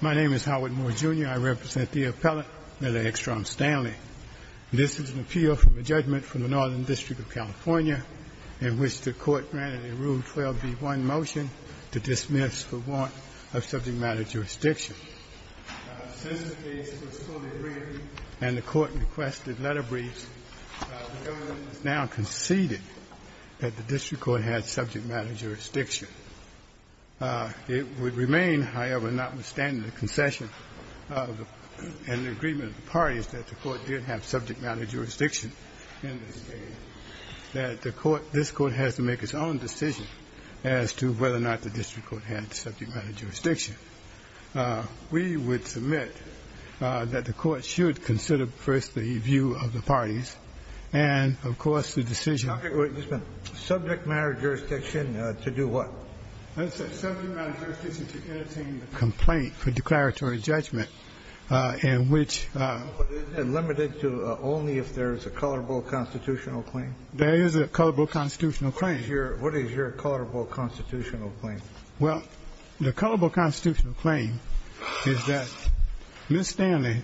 My name is Howard Moore, Jr. I represent the appellate, Lillia Extrom-Stanley. This is an appeal from a judgment from the Northern District of California in which the court granted a Rule 12b-1 motion to dismiss for want of subject matter jurisdiction. Since the case was fully briefed and the court requested letter briefs, the government has now conceded that the district court had subject matter jurisdiction. It would remain, however, notwithstanding the concession and the agreement of the parties that the court did have subject matter jurisdiction in this case, that the court, this court, has to make its own decision as to whether or not the district court had subject matter jurisdiction. We would submit that the court should consider first the view of the parties and, of course, the decision. Kennedy Subject matter jurisdiction to do what? Gonzales Subject matter jurisdiction to entertain a complaint for declaratory judgment in which there is a colorable constitutional claim. Kennedy There is a colorable constitutional claim. Kennedy What is your colorable constitutional claim? Gonzales Well, the colorable constitutional claim is that Ms. Stanley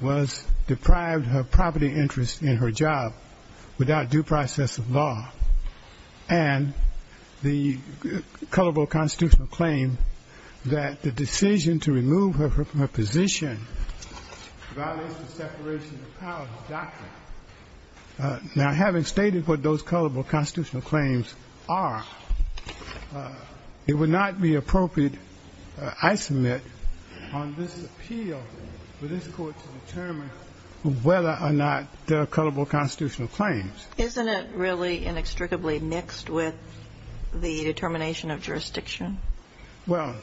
was deprived of her property interest in her job without due process of law. And the colorable constitutional claim that the decision to remove her from her position violates the separation of powers doctrine. Now, having stated what those colorable constitutional claims are, it would not be appropriate, I submit, on this appeal for this court to determine whether or not there are colorable constitutional claims. Kagan Isn't it really inextricably mixed with the determination of jurisdiction? Gonzales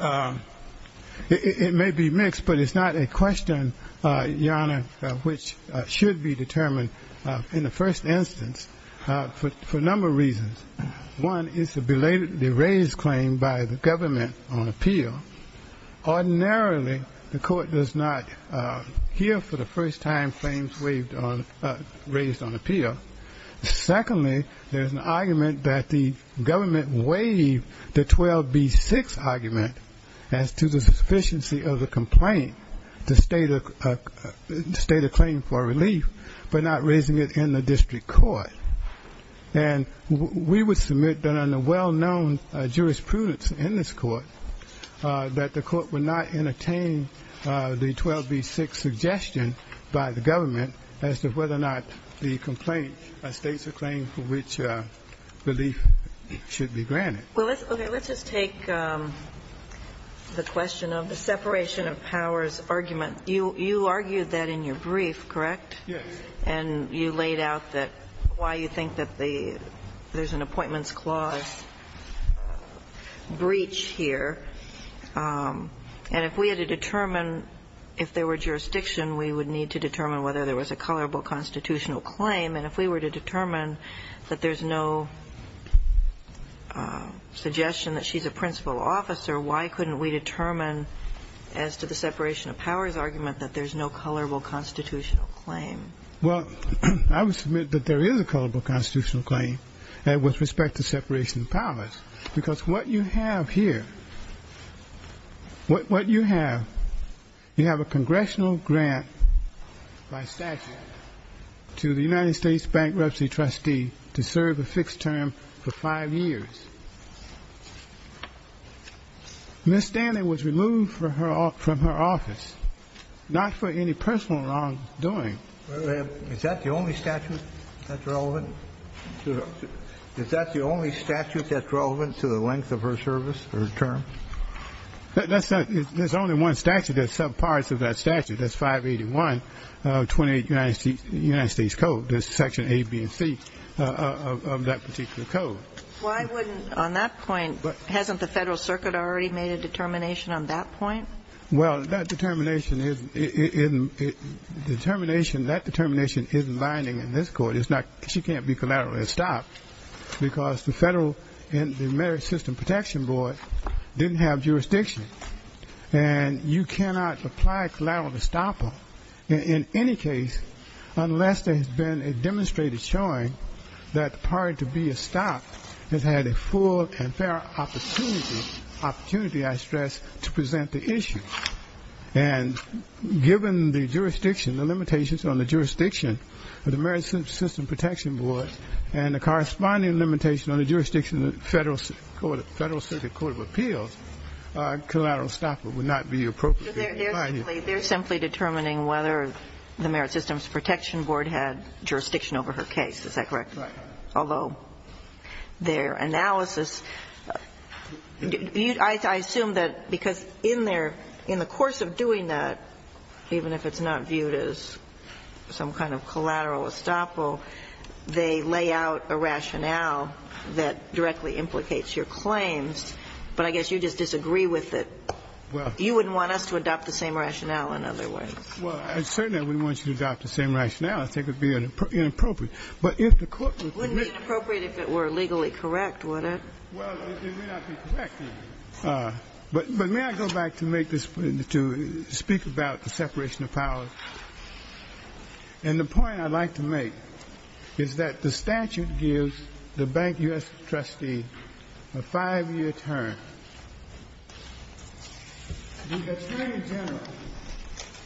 Well, it may be mixed, but it's not a question, Your Honor, which should be determined in the first instance for a number of reasons. One is the belatedly raised claim by the government on appeal. Ordinarily, the court does not hear for the first time claims raised on appeal. Secondly, there's an argument that the government waived the 12B6 argument as to the sufficiency of the complaint to state a claim for relief, but not raising it in the district court. And we would submit that under well-known jurisprudence in this court that the court would not entertain the 12B6 suggestion by the government as to whether or not the complaint states a claim for which relief should be granted. Kagan Well, let's just take the question of the separation of powers argument. You argued that in your brief, correct? Gonzales Yes. Kagan And you laid out why you think that there's an appointments clause breach here. And if we had to determine if there were jurisdiction, we would need to determine whether there was a colorable constitutional claim. And if we were to determine that there's no suggestion that she's a principal officer, why couldn't we determine as to the separation of powers argument that there's no colorable constitutional claim? Gonzales Well, I would submit that there is a colorable constitutional claim with respect to separation of powers, because what you have here, what you have, you have a congressional grant by statute to the United States Bank Representative Trustee to serve a fixed term for five years. Ms. Stanley was removed from her office, not for any personal wrongdoing. Kennedy Is that the only statute that's relevant? Is that the only statute that's relevant to the length of her service or term? Gonzales There's only one statute that's subparts of that statute. That's 581 of 28 United States Code. There's section A, B, and C of that particular code. Kagan Why wouldn't, on that point, hasn't the Federal Circuit already made a determination on that point? Gonzales Well, that determination isn't binding in this Court. She can't be collaterally estopped, because the Federal and the Merit System Protection Board didn't have jurisdiction. And you cannot apply a collateral estoppel in any case unless there has been a demonstrated showing that the party to be estopped has had a full and fair opportunity, opportunity I stress, to present the issue. And given the jurisdiction, the limitations on the jurisdiction of the Merit System Protection Board and the corresponding limitation on the jurisdiction of the Federal Circuit Court of Appeals, collateral estoppel would not be appropriate. Kagan They're simply determining whether the Merit Systems Protection Board had jurisdiction over her case. Is that correct? Although their analysis, I assume that because in their, in the course of doing that, even if it's not viewed as some kind of collateral estoppel, they lay out a rationale that directly implicates your claims. But I guess you just disagree with it. You wouldn't want us to adopt the same rationale in other words. Well, certainly I wouldn't want you to adopt the same rationale. I think it would be inappropriate. But if the court would admit to it. It wouldn't be inappropriate if it were legally correct, would it? Well, it may not be correct. But may I go back to make this, to speak about the separation of powers? And the point I'd like to make is that the statute gives the bank U.S. trustee a five-year term. The attorney general,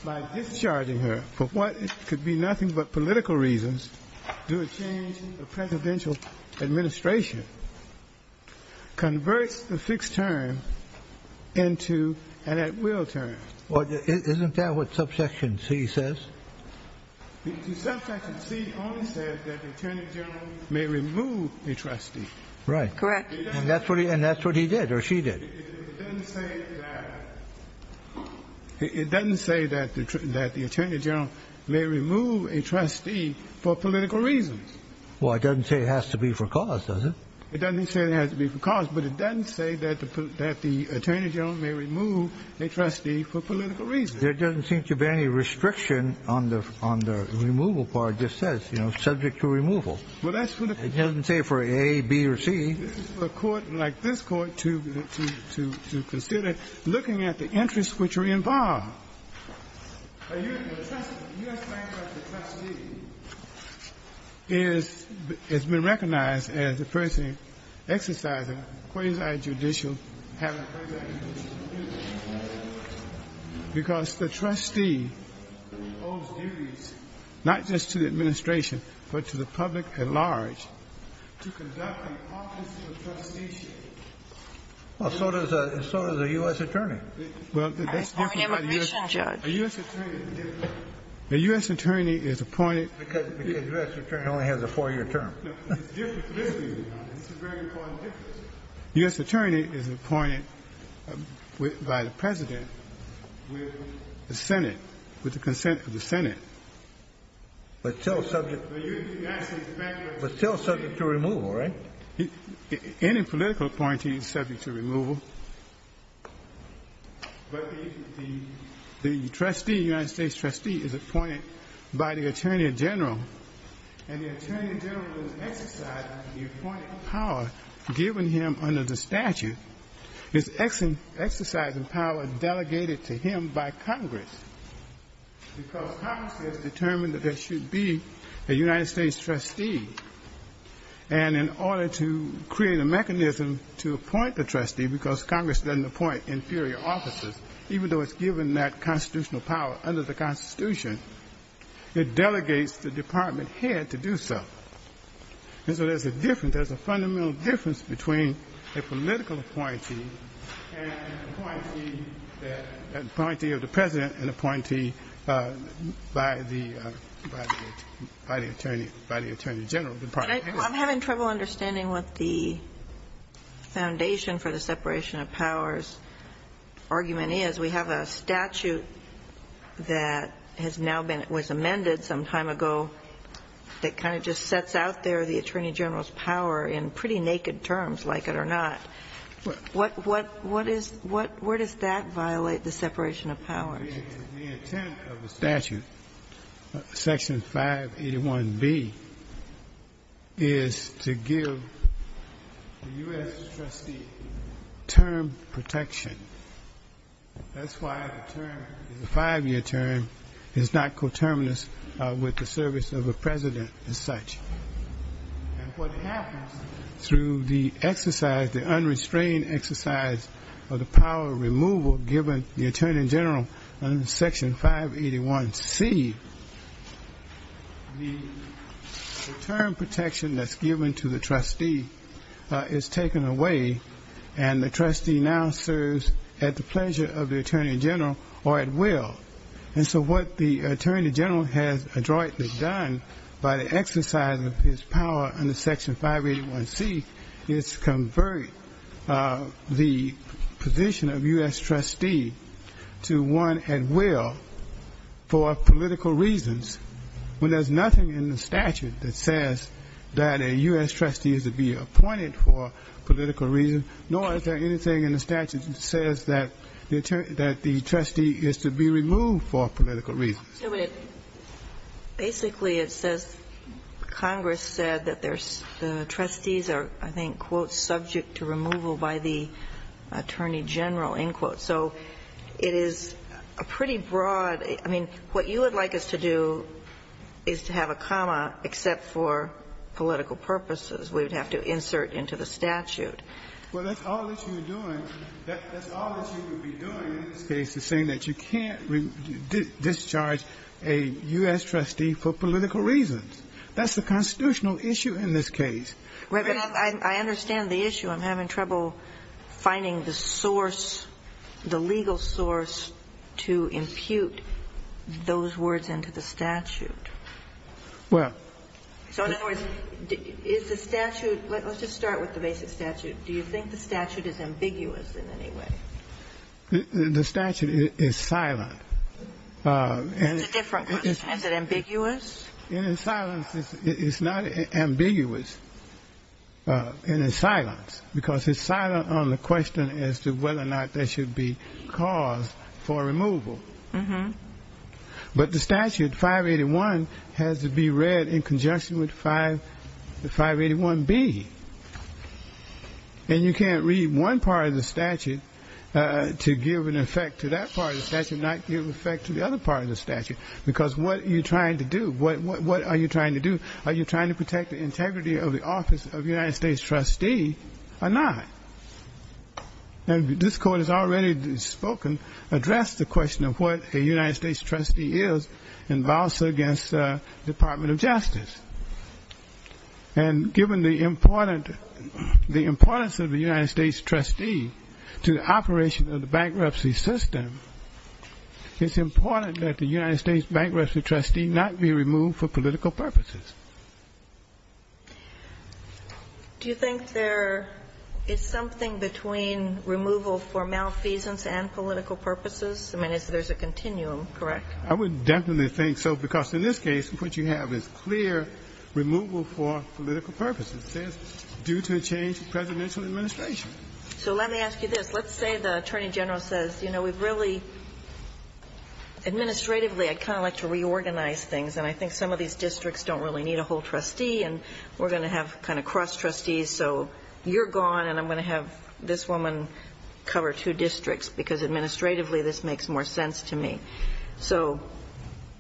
by discharging her for what could be nothing but political reasons, due to change in the presidential administration, converts the fixed term into an at-will term. Isn't that what subsection C says? The subsection C only says that the attorney general may remove a trustee. Right. Correct. And that's what he did or she did. It doesn't say that the attorney general may remove a trustee for political reasons. Well, it doesn't say it has to be for cause, does it? It doesn't say it has to be for cause. But it doesn't say that the attorney general may remove a trustee for political reasons. There doesn't seem to be any restriction on the removal part. It just says, you know, subject to removal. Well, that's what it says. It doesn't say for A, B, or C. This is for a court like this court to consider looking at the interests which are involved. The U.S. bank trustee has been recognized as the person exercising quasi-judicial immunity because the trustee owes duties not just to the administration but to the public at large to conduct the office of trusteeship. Well, so does a U.S. attorney. Well, that's different. I'm an immigration judge. A U.S. attorney is different. A U.S. attorney is appointed. Because the U.S. attorney only has a four-year term. No, it's different. It's a very important difference. A U.S. attorney is appointed by the President with the Senate, with the consent of the Senate. But still subject to removal, right? Any political appointee is subject to removal. But the trustee, the United States trustee, is appointed by the attorney general. And the attorney general is exercising the appointing power given him under the statute. It's exercising power delegated to him by Congress because Congress has determined that there should be a United States trustee. And in order to create a mechanism to appoint the trustee, because Congress doesn't appoint inferior officers, even though it's given that constitutional power under the Constitution, it delegates the department head to do so. And so there's a difference. There's a fundamental difference between a political appointee and an appointee of the President and an appointee by the attorney general, the department head. I'm having trouble understanding what the foundation for the separation of powers argument is. We have a statute that has now been, was amended some time ago that kind of just sets out there the attorney general's power in pretty naked terms, like it or not. What, what, what is, where does that violate the separation of powers? The intent of the statute, Section 581B, is to give the U.S. trustee term protection. That's why the term, the five-year term, is not coterminous with the service of a president as such. And what happens through the exercise, the unrestrained exercise of the power removal given the attorney general under Section 581C, the term protection that's given to the trustee is taken away. And the trustee now serves at the pleasure of the attorney general, or at will. And so what the attorney general has adroitly done by the exercise of his power under Section 581C, is convert the position of U.S. trustee to one at will for political reasons, when there's nothing in the statute that says that a U.S. trustee is to be appointed for political reasons, nor is there anything in the statute that says that the trustee is to be removed for political reasons. Ginsburg. Basically, it says Congress said that there's the trustees are, I think, quote, subject to removal by the attorney general, end quote. So it is a pretty broad. I mean, what you would like us to do is to have a comma except for political purposes. We would have to insert into the statute. Well, that's all that you're doing. That's all that you would be doing in this case is saying that you can't discharge a U.S. trustee for political reasons. That's the constitutional issue in this case. Right. But I understand the issue. I'm having trouble finding the source, the legal source, to impute those words into the statute. Well. So in other words, is the statute, let's just start with the basic statute. Do you think the statute is ambiguous in any way? The statute is silent. It's a different question. Is it ambiguous? In its silence, it's not ambiguous in its silence because it's silent on the question as to whether or not there should be cause for removal. But the statute, 581, has to be read in conjunction with 581B. And you can't read one part of the statute to give an effect to that part of the statute and not give effect to the other part of the statute because what are you trying to do? What are you trying to do? Are you trying to protect the integrity of the office of a United States trustee or not? And this Court has already spoken, addressed the question of what a United States trustee is in violence against the Department of Justice. And given the importance of a United States trustee to the operation of the bankruptcy system, it's important that the United States bankruptcy trustee not be removed for political purposes. Do you think there is something between removal for malfeasance and political purposes? I mean, there's a continuum, correct? I would definitely think so because in this case, what you have is clear removal for political purposes. It says due to a change in presidential administration. So let me ask you this. Let's say the Attorney General says, you know, we've really administratively kind of like to reorganize things, and I think some of these districts don't really need a whole trustee, and we're going to have kind of cross-trustees, so you're gone, and I'm going to have this woman cover two districts because administratively this makes more sense to me. So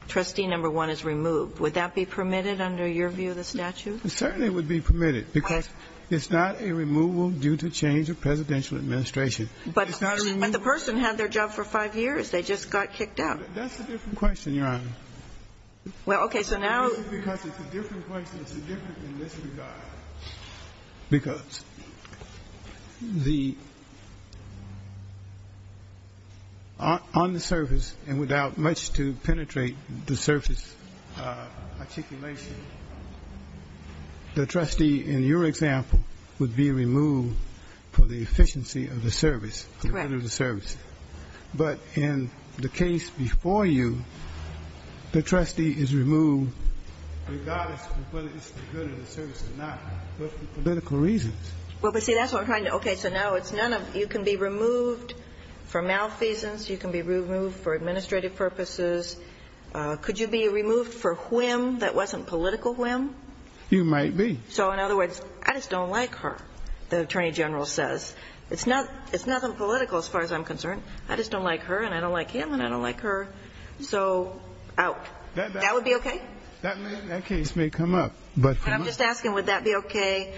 trustee number one is removed. Would that be permitted under your view of the statute? It certainly would be permitted because it's not a removal due to change of presidential administration. But the person had their job for five years. They just got kicked out. That's a different question, Your Honor. Well, okay. So now you're going to ask me. Because it's a different question. It's different in this regard. Because the ‑‑ on the surface and without much to penetrate the surface articulation, the trustee in your example would be removed for the efficiency of the service. Correct. But in the case before you, the trustee is removed regardless of whether it's the good or the service or not, but for political reasons. Well, but see, that's what I'm trying to ‑‑ okay, so now it's none of ‑‑ you can be removed for malfeasance. You can be removed for administrative purposes. Could you be removed for whim that wasn't political whim? You might be. So, in other words, I just don't like her, the Attorney General says. It's nothing political as far as I'm concerned. I just don't like her and I don't like him and I don't like her. So, out. That would be okay? That case may come up. I'm just asking would that be okay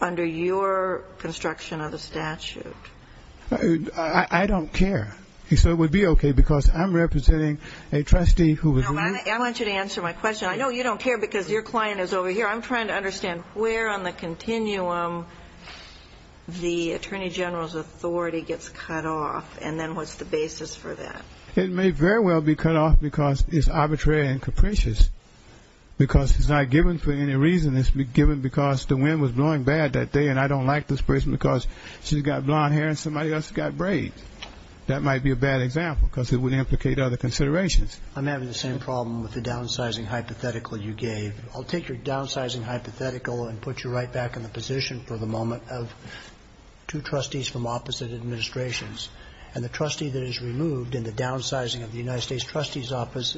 under your construction of the statute? I don't care. So it would be okay because I'm representing a trustee who was removed. I want you to answer my question. I know you don't care because your client is over here. I'm trying to understand where on the continuum the Attorney General's authority gets cut off and then what's the basis for that? It may very well be cut off because it's arbitrary and capricious because it's not given for any reason. It's given because the wind was blowing bad that day and I don't like this person because she's got blonde hair and somebody else has got braids. That might be a bad example because it would implicate other considerations. I'm having the same problem with the downsizing hypothetical you gave. I'll take your downsizing hypothetical and put you right back in the position for the moment of two trustees from opposite administrations and the trustee that is removed in the downsizing of the United States Trustees Office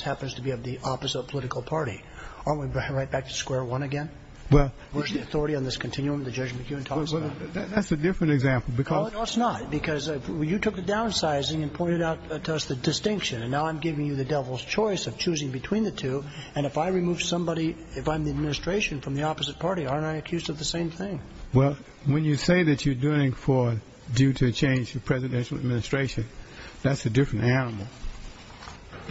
happens to be of the opposite political party. Aren't we right back to square one again? Where's the authority on this continuum that Judge McEwen talks about? That's a different example. No, it's not because you took the downsizing and pointed out to us the distinction and now I'm giving you the devil's choice of choosing between the two and if I remove somebody, if I'm the administration from the opposite party, aren't I accused of the same thing? Well, when you say that you're doing it due to a change in presidential administration, that's a different animal.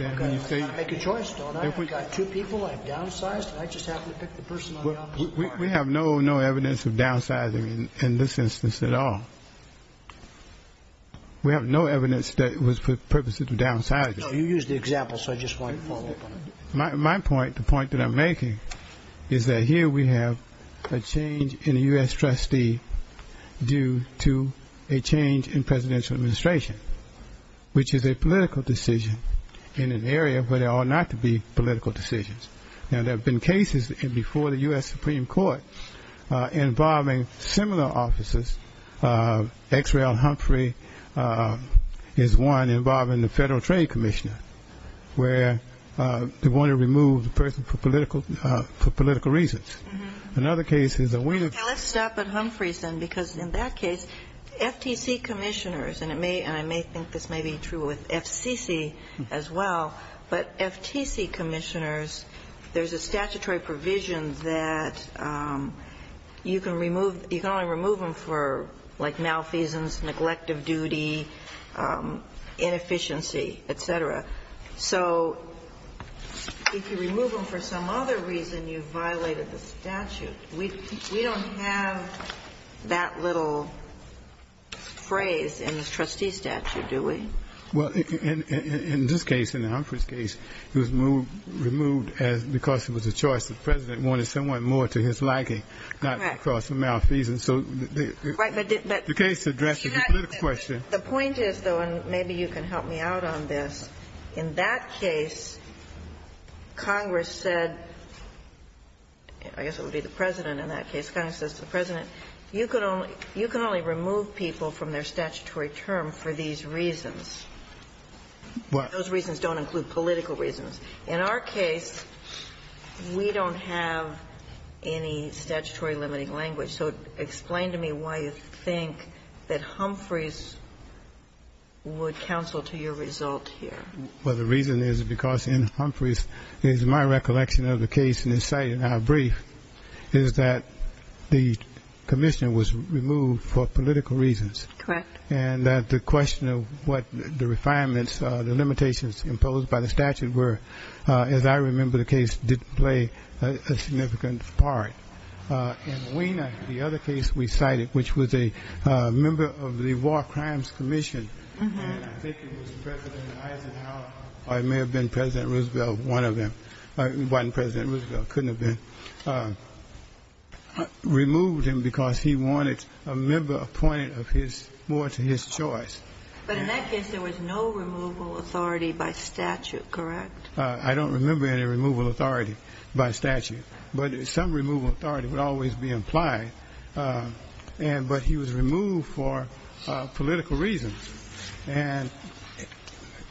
Okay. I can't make a choice, though. I've got two people I've downsized and I just happen to pick the person on the opposite party. We have no evidence of downsizing in this instance at all. We have no evidence that it was for purposes of downsizing. No, you used the example, so I just wanted to follow up on it. My point, the point that I'm making, is that here we have a change in a U.S. trustee due to a change in presidential administration, which is a political decision in an area where there ought not to be political decisions. Now, there have been cases before the U.S. Supreme Court involving similar offices. X. Rael Humphrey is one involving the Federal Trade Commissioner, where they want to remove the person for political reasons. Another case is that we need to. Let's stop at Humphrey's then, because in that case, FTC commissioners, and I may think this may be true with FCC as well, but FTC commissioners, there's a statutory provision that you can remove, you can only remove them for, like, malfeasance, neglect of duty, inefficiency, et cetera. So if you remove them for some other reason, you've violated the statute. We don't have that little phrase in the trustee statute, do we? Well, in this case, in Humphrey's case, it was removed because it was a choice and the President wanted someone more to his liking, not to cause some malfeasance. So the case addresses the political question. The point is, though, and maybe you can help me out on this, in that case, Congress said, I guess it would be the President in that case, Congress says to the President, you can only remove people from their statutory term for these reasons. What? Those reasons don't include political reasons. In our case, we don't have any statutory limiting language. So explain to me why you think that Humphrey's would counsel to your result here. Well, the reason is because in Humphrey's, it is my recollection of the case in this case, in our brief, is that the commissioner was removed for political reasons. Correct. And that the question of what the refinements, the limitations imposed by the statute were, as I remember the case, didn't play a significant part. In Wiener, the other case we cited, which was a member of the War Crimes Commission, and I think it was President Eisenhower, or it may have been President Roosevelt, one of them, President Roosevelt, couldn't have been, removed him because he wanted a refinement to his choice. But in that case, there was no removal authority by statute, correct? I don't remember any removal authority by statute. But some removal authority would always be implied. But he was removed for political reasons. And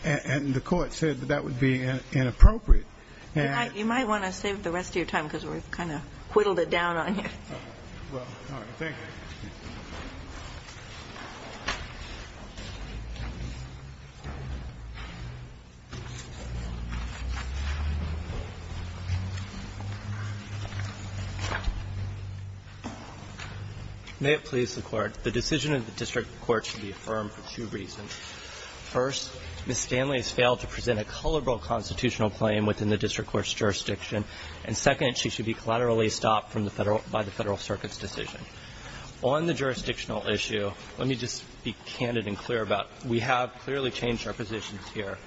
the court said that that would be inappropriate. You might want to save the rest of your time because we've kind of whittled it down on you. All right. Thank you. May it please the Court. The decision of the district court should be affirmed for two reasons. First, Ms. Stanley has failed to present a culpable constitutional claim within the district court's jurisdiction. And second, she should be collaterally stopped from the Federal – by the Federal Circuit's decision. On the jurisdictional issue, let me just be candid and clear about it. We have clearly changed our positions here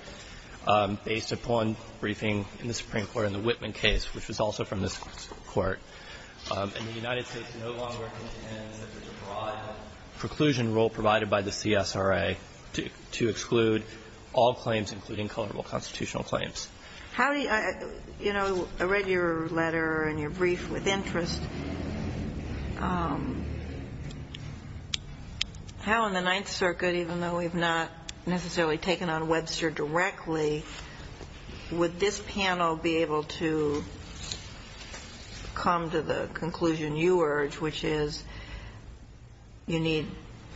based upon briefing in the Supreme Court in the Whitman case, which was also from this Court. And the United States no longer intends that there's a broad preclusion rule provided by the CSRA to exclude all claims, including culpable constitutional claims. How do you – you know, I read your letter and your brief with interest. How in the Ninth Circuit, even though we've not necessarily taken on Webster directly, would this panel be able to come to the conclusion you urge, which is you need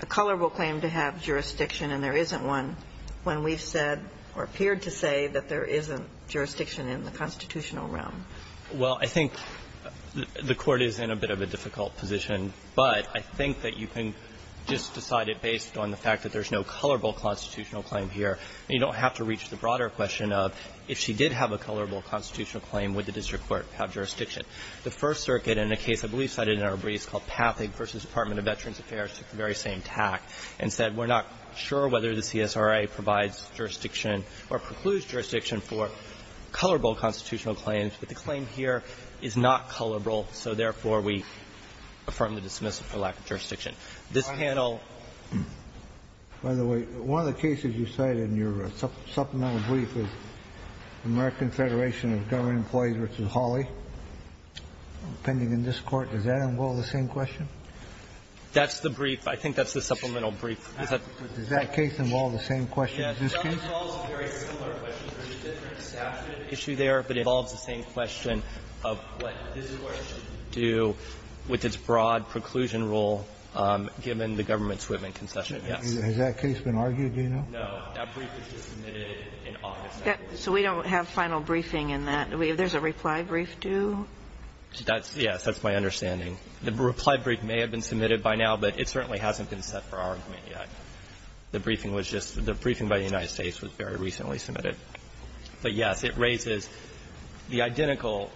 a culpable claim to have jurisdiction and there isn't one when we've said or appeared to say that there isn't jurisdiction in the constitutional realm? Well, I think the Court is in a bit of a difficult position, but I think that you can just decide it based on the fact that there's no culpable constitutional claim here. And you don't have to reach the broader question of if she did have a culpable constitutional claim, would the district court have jurisdiction? The First Circuit in a case I believe cited in our briefs called Pathak v. Department of Veterans Affairs took the very same tack and said we're not sure whether the CSRA provides jurisdiction or precludes jurisdiction for culpable constitutional claims, but the claim here is not culpable. So therefore, we affirm the dismissal for lack of jurisdiction. This panel – By the way, one of the cases you cited in your supplemental brief is American Federation of Government Employees v. Hawley. Depending on this Court, does that involve the same question? That's the brief. I think that's the supplemental brief. Does that case involve the same question as this case? Yes. It involves a very similar question. There's a different statute issue there, but it involves the same question of what this Court should do with its broad preclusion rule given the government's commitment concession. Yes. Has that case been argued, do you know? No. That brief was just submitted in August. So we don't have final briefing in that. There's a reply brief due? That's – yes, that's my understanding. The reply brief may have been submitted by now, but it certainly hasn't been set up for argument yet. The briefing was just – the briefing by the United States was very recently submitted. But yes, it raises the identical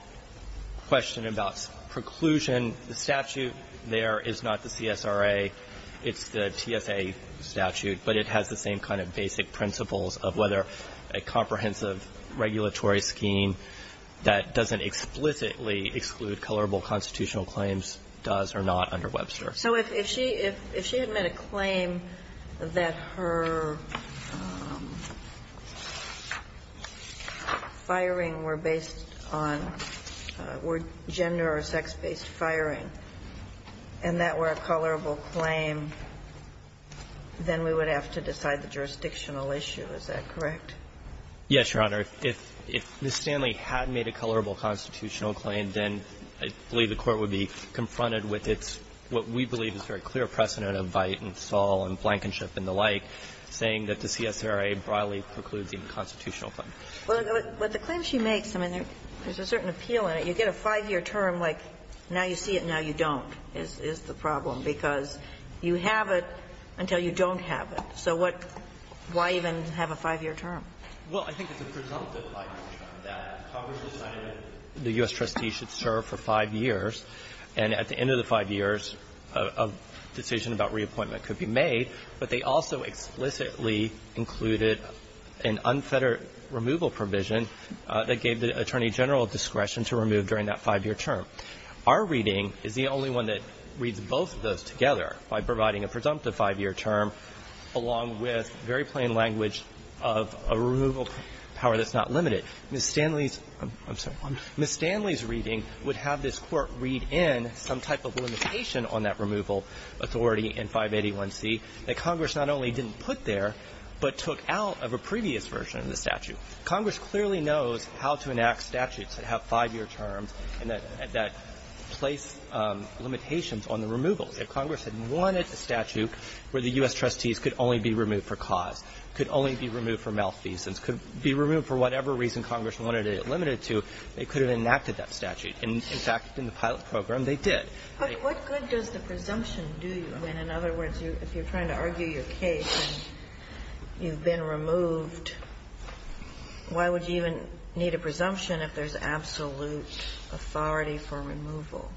question about preclusion. The statute there is not the CSRA. It's the TSA statute, but it has the same kind of basic principles of whether a comprehensive regulatory scheme that doesn't explicitly exclude colorable constitutional claims does or not under Webster. So if she – if she had made a claim that her firing were based on – were gender- or sex-based firing, and that were a colorable claim, then we would have to decide the jurisdictional issue, is that correct? Yes, Your Honor. If Ms. Stanley had made a colorable constitutional claim, then I believe the Court would be confronted with its – what we believe is very clear precedent of Veidt and Saul and Blankenship and the like, saying that the CSRA broadly precludes even constitutional claims. But the claim she makes, I mean, there's a certain appeal in it. You get a 5-year term, like, now you see it, now you don't, is the problem, because you have it until you don't have it. So what – why even have a 5-year term? Well, I think it's a presumptive 5-year term, that Congress decided that the U.S. trustee should serve for 5 years, and at the end of the 5 years, a decision about reappointment could be made, but they also explicitly included an unfettered removal provision that gave the Attorney General discretion to remove during that 5-year term. Our reading is the only one that reads both of those together by providing a presumptive 5-year term, along with very plain language of a removal power that's not limited. But Ms. Stanley's – I'm sorry – Ms. Stanley's reading would have this Court read in some type of limitation on that removal authority in 581C that Congress not only didn't put there, but took out of a previous version of the statute. Congress clearly knows how to enact statutes that have 5-year terms and that place limitations on the removals. If Congress had wanted a statute where the U.S. trustees could only be removed for cause, could only be removed for malfeasance, could be removed for whatever reason Congress wanted it limited to, they could have enacted that statute. In fact, in the pilot program, they did. But what good does the presumption do you, I mean, in other words, if you're trying to argue your case and you've been removed, why would you even need a presumption if there's absolute authority for removal?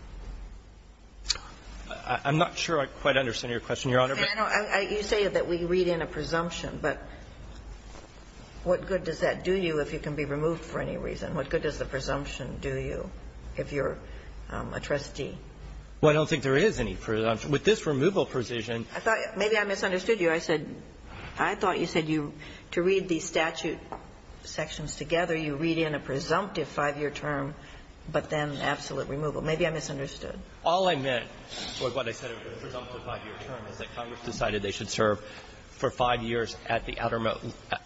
I'm not sure I quite understand your question, Your Honor. You say that we read in a presumption, but what good does that do you if you can be removed for any reason? What good does the presumption do you if you're a trustee? Well, I don't think there is any presumption. With this removal provision – I thought – maybe I misunderstood you. I said – I thought you said you – to read the statute sections together, you read in a presumptive 5-year term, but then absolute removal. Maybe I misunderstood. All I meant with what I said about the presumptive 5-year term is that Congress decided they should serve for 5 years at the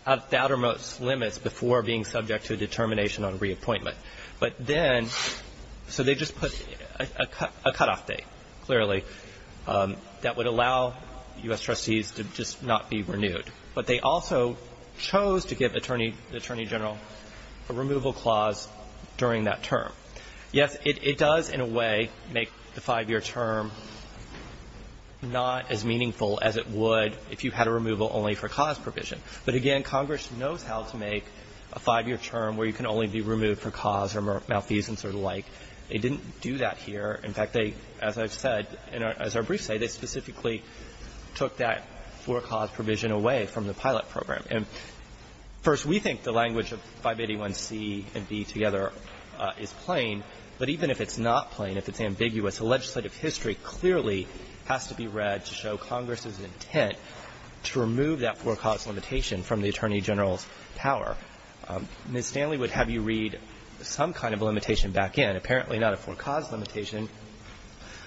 outermost limits before being subject to a determination on reappointment. But then – so they just put a cutoff date, clearly, that would allow U.S. trustees to just not be renewed. But they also chose to give the Attorney General a removal clause during that term. Yes, it does in a way make the 5-year term not as meaningful as it would if you had a removal only for cause provision. But again, Congress knows how to make a 5-year term where you can only be removed for cause or malfeasance or the like. They didn't do that here. In fact, they – as I've said, as our briefs say, they specifically took that for cause provision away from the pilot program. And, first, we think the language of 581C and B together is plain. But even if it's not plain, if it's ambiguous, the legislative history clearly has to be read to show Congress's intent to remove that for cause limitation from the Attorney General's power. Ms. Stanley would have you read some kind of limitation back in. Apparently not a for cause limitation,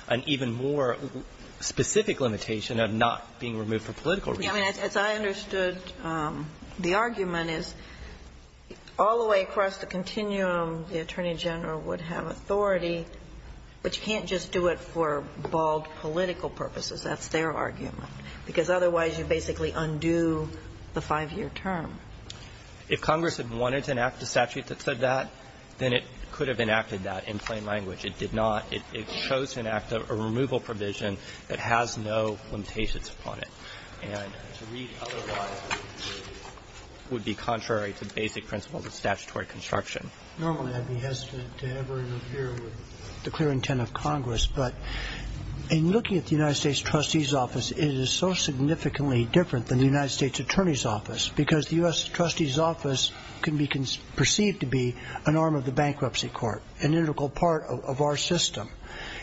an even more specific limitation of not being removed for political reasons. I mean, as I understood, the argument is all the way across the continuum, the Attorney General would have authority, but you can't just do it for bald political purposes. That's their argument. Because otherwise, you basically undo the 5-year term. If Congress had wanted to enact a statute that said that, then it could have enacted that in plain language. It did not. It chose to enact a removal provision that has no limitations on it. And to read otherwise would be contrary to basic principles of statutory construction. Normally, I'd be hesitant to ever interfere with the clear intent of Congress. But in looking at the United States Trustee's office, it is so significantly different than the United States Attorney's office. Because the US Trustee's office can be perceived to be an arm of the bankruptcy court, an integral part of our system.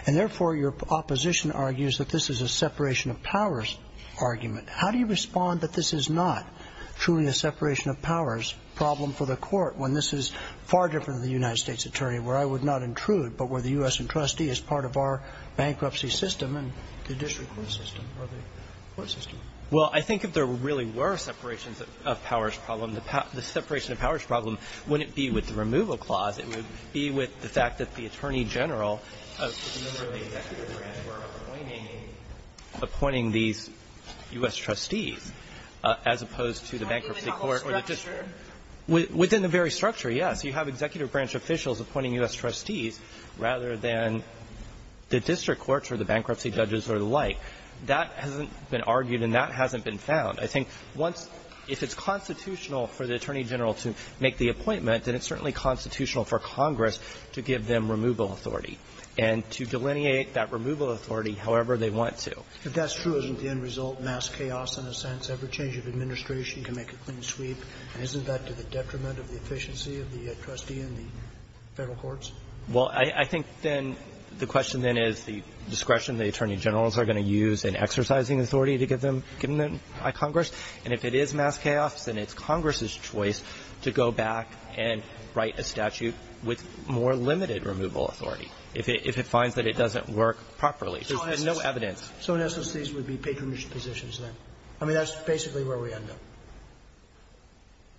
And therefore, your opposition argues that this is a separation of powers argument. How do you respond that this is not truly a separation of powers problem for the court, when this is far different than the United States Attorney, where I would not intrude, but where the US and trustee is part of our bankruptcy system and the district court system or the court system? Well, I think if there really were a separation of powers problem, the separation of powers problem wouldn't be with the removal clause. It would be with the fact that the Attorney General of the executive branch were appointing these US trustees as opposed to the bankruptcy court. Within the very structure, yes. You have executive branch officials appointing US trustees rather than the district courts or the bankruptcy judges or the like. That hasn't been argued and that hasn't been found. I think once, if it's constitutional for the Attorney General to make the appointment, then it's certainly constitutional for Congress to give them removal authority and to delineate that removal authority however they want to. If that's true, isn't the end result mass chaos in a sense? Every change of administration can make a clean sweep. And isn't that to the detriment of the efficiency of the trustee in the Federal courts? Well, I think then the question then is the discretion the Attorney Generals are going to use in exercising authority to give them by Congress. And if it is mass chaos, then it's Congress's choice to go back and write a statute with more limited removal authority if it finds that it doesn't work properly. There's no evidence. So in essence, these would be patronage positions then? I mean, that's basically where we end up.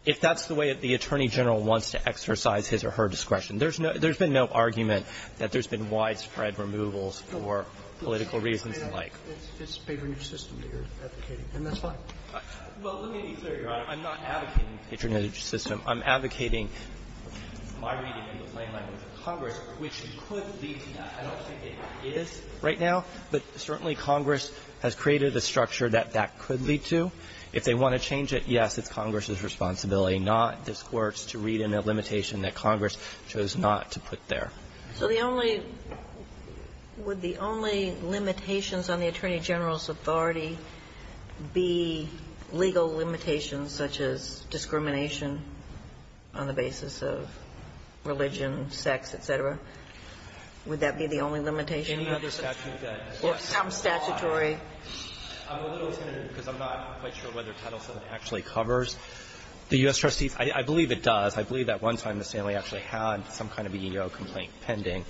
If that's the way that the Attorney General wants to exercise his or her discretion, there's no – there's been no argument that there's been widespread removals for political reasons like – It's a patronage system that you're advocating, and that's fine. Well, let me be clear, Your Honor. I'm not advocating patronage system. I'm advocating my reading in the plain language of Congress, which could lead to that. I don't think it is right now, but certainly Congress has created a structure that that could lead to. If they want to change it, yes, it's Congress's responsibility, not this Court's to read in a limitation that Congress chose not to put there. So the only – would the only limitations on the Attorney General's authority be legal limitations such as discrimination on the basis of religion, sex, et cetera? Would that be the only limitation? Any other statute that – Or some statutory – I'm a little intimidated because I'm not quite sure whether Title VII actually covers the U.S. trustees. I believe it does. I believe that one time the Stanley actually had some kind of EEO complaint pending.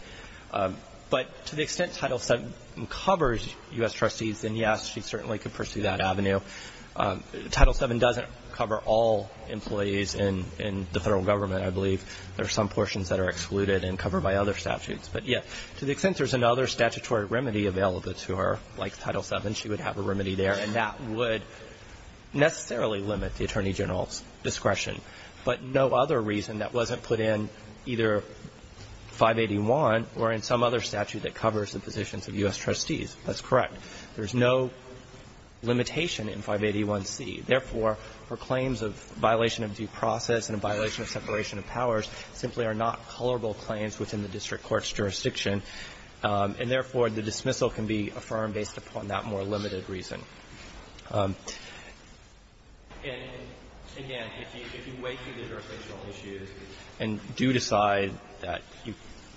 But to the extent Title VII covers U.S. trustees, then yes, she certainly could pursue that avenue. Title VII doesn't cover all employees in the federal government, I believe. There are some portions that are excluded and covered by other statutes. But, yes, to the extent there's another statutory remedy available to her, like Title VII, she would have a remedy there, and that would necessarily limit the Attorney General's discretion. But no other reason that wasn't put in either 581 or in some other statute that covers the positions of U.S. trustees. That's correct. There's no limitation in 581C. Therefore, her claims of violation of due process and a violation of separation of powers simply are not colorable claims within the district court's jurisdiction. And, therefore, the dismissal can be affirmed based upon that more limited reason. And, again, if you weigh through the jurisdictional issues and do decide that the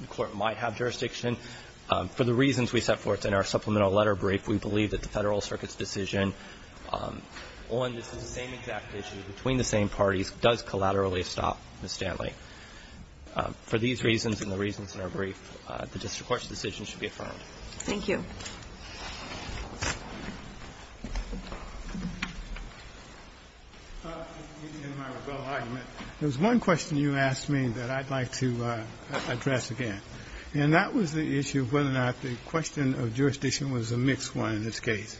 court might have jurisdiction, for the reasons we set forth in our supplemental letter brief, we believe that the Federal Circuit's decision on the same exact issue between the same parties does collaterally stop Ms. Stanley. For these reasons and the reasons in our brief, the district court's decision should be affirmed. Thank you. Mr. Goldenberg. In my rebuttal argument, there was one question you asked me that I'd like to address again, and that was the issue of whether or not the question of jurisdiction was a mixed one in this case.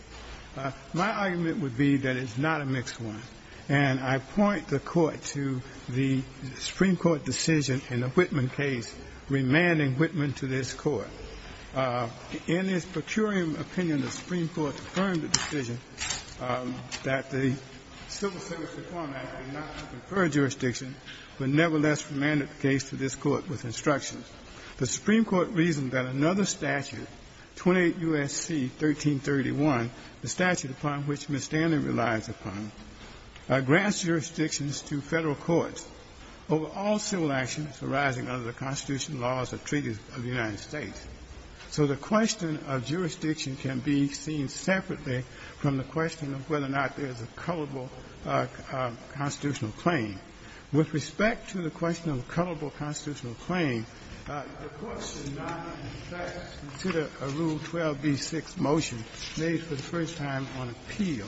My argument would be that it's not a mixed one, and I point the Court to the Supreme Court decision in the Whitman case remanding Whitman to this Court. In its procuring opinion, the Supreme Court affirmed the decision that the civil civics reform act did not confer jurisdiction, but nevertheless remanded the case to this Court with instruction. The Supreme Court reasoned that another statute, 28 U.S.C. 1331, the statute upon which Ms. Stanley relies upon, grants jurisdictions to Federal courts over all civil actions arising under the Constitution, laws, or treaties of the United States. So the question of jurisdiction can be seen separately from the question of whether or not there is a culpable constitutional claim. With respect to the question of culpable constitutional claim, the Court should not, in fact, consider a Rule 12b6 motion made for the first time on appeal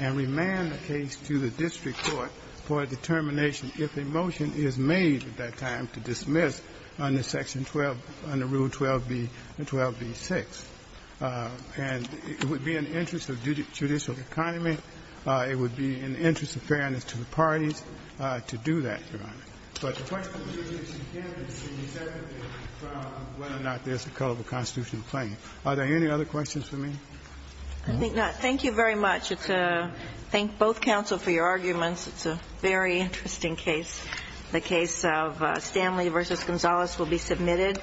and remand a case to the district court for a determination if a motion is made at that time to dismiss under Section 12, under Rule 12b6. And it would be in the interest of judicial economy. It would be in the interest of fairness to the parties to do that, Your Honor. But the question of jurisdiction can be seen separately from whether or not there is a culpable constitutional claim. Are there any other questions for me? I think not. Thank you very much. I'd like to thank both counsel for your arguments. It's a very interesting case. The case of Stanley v. Gonzalez will be submitted.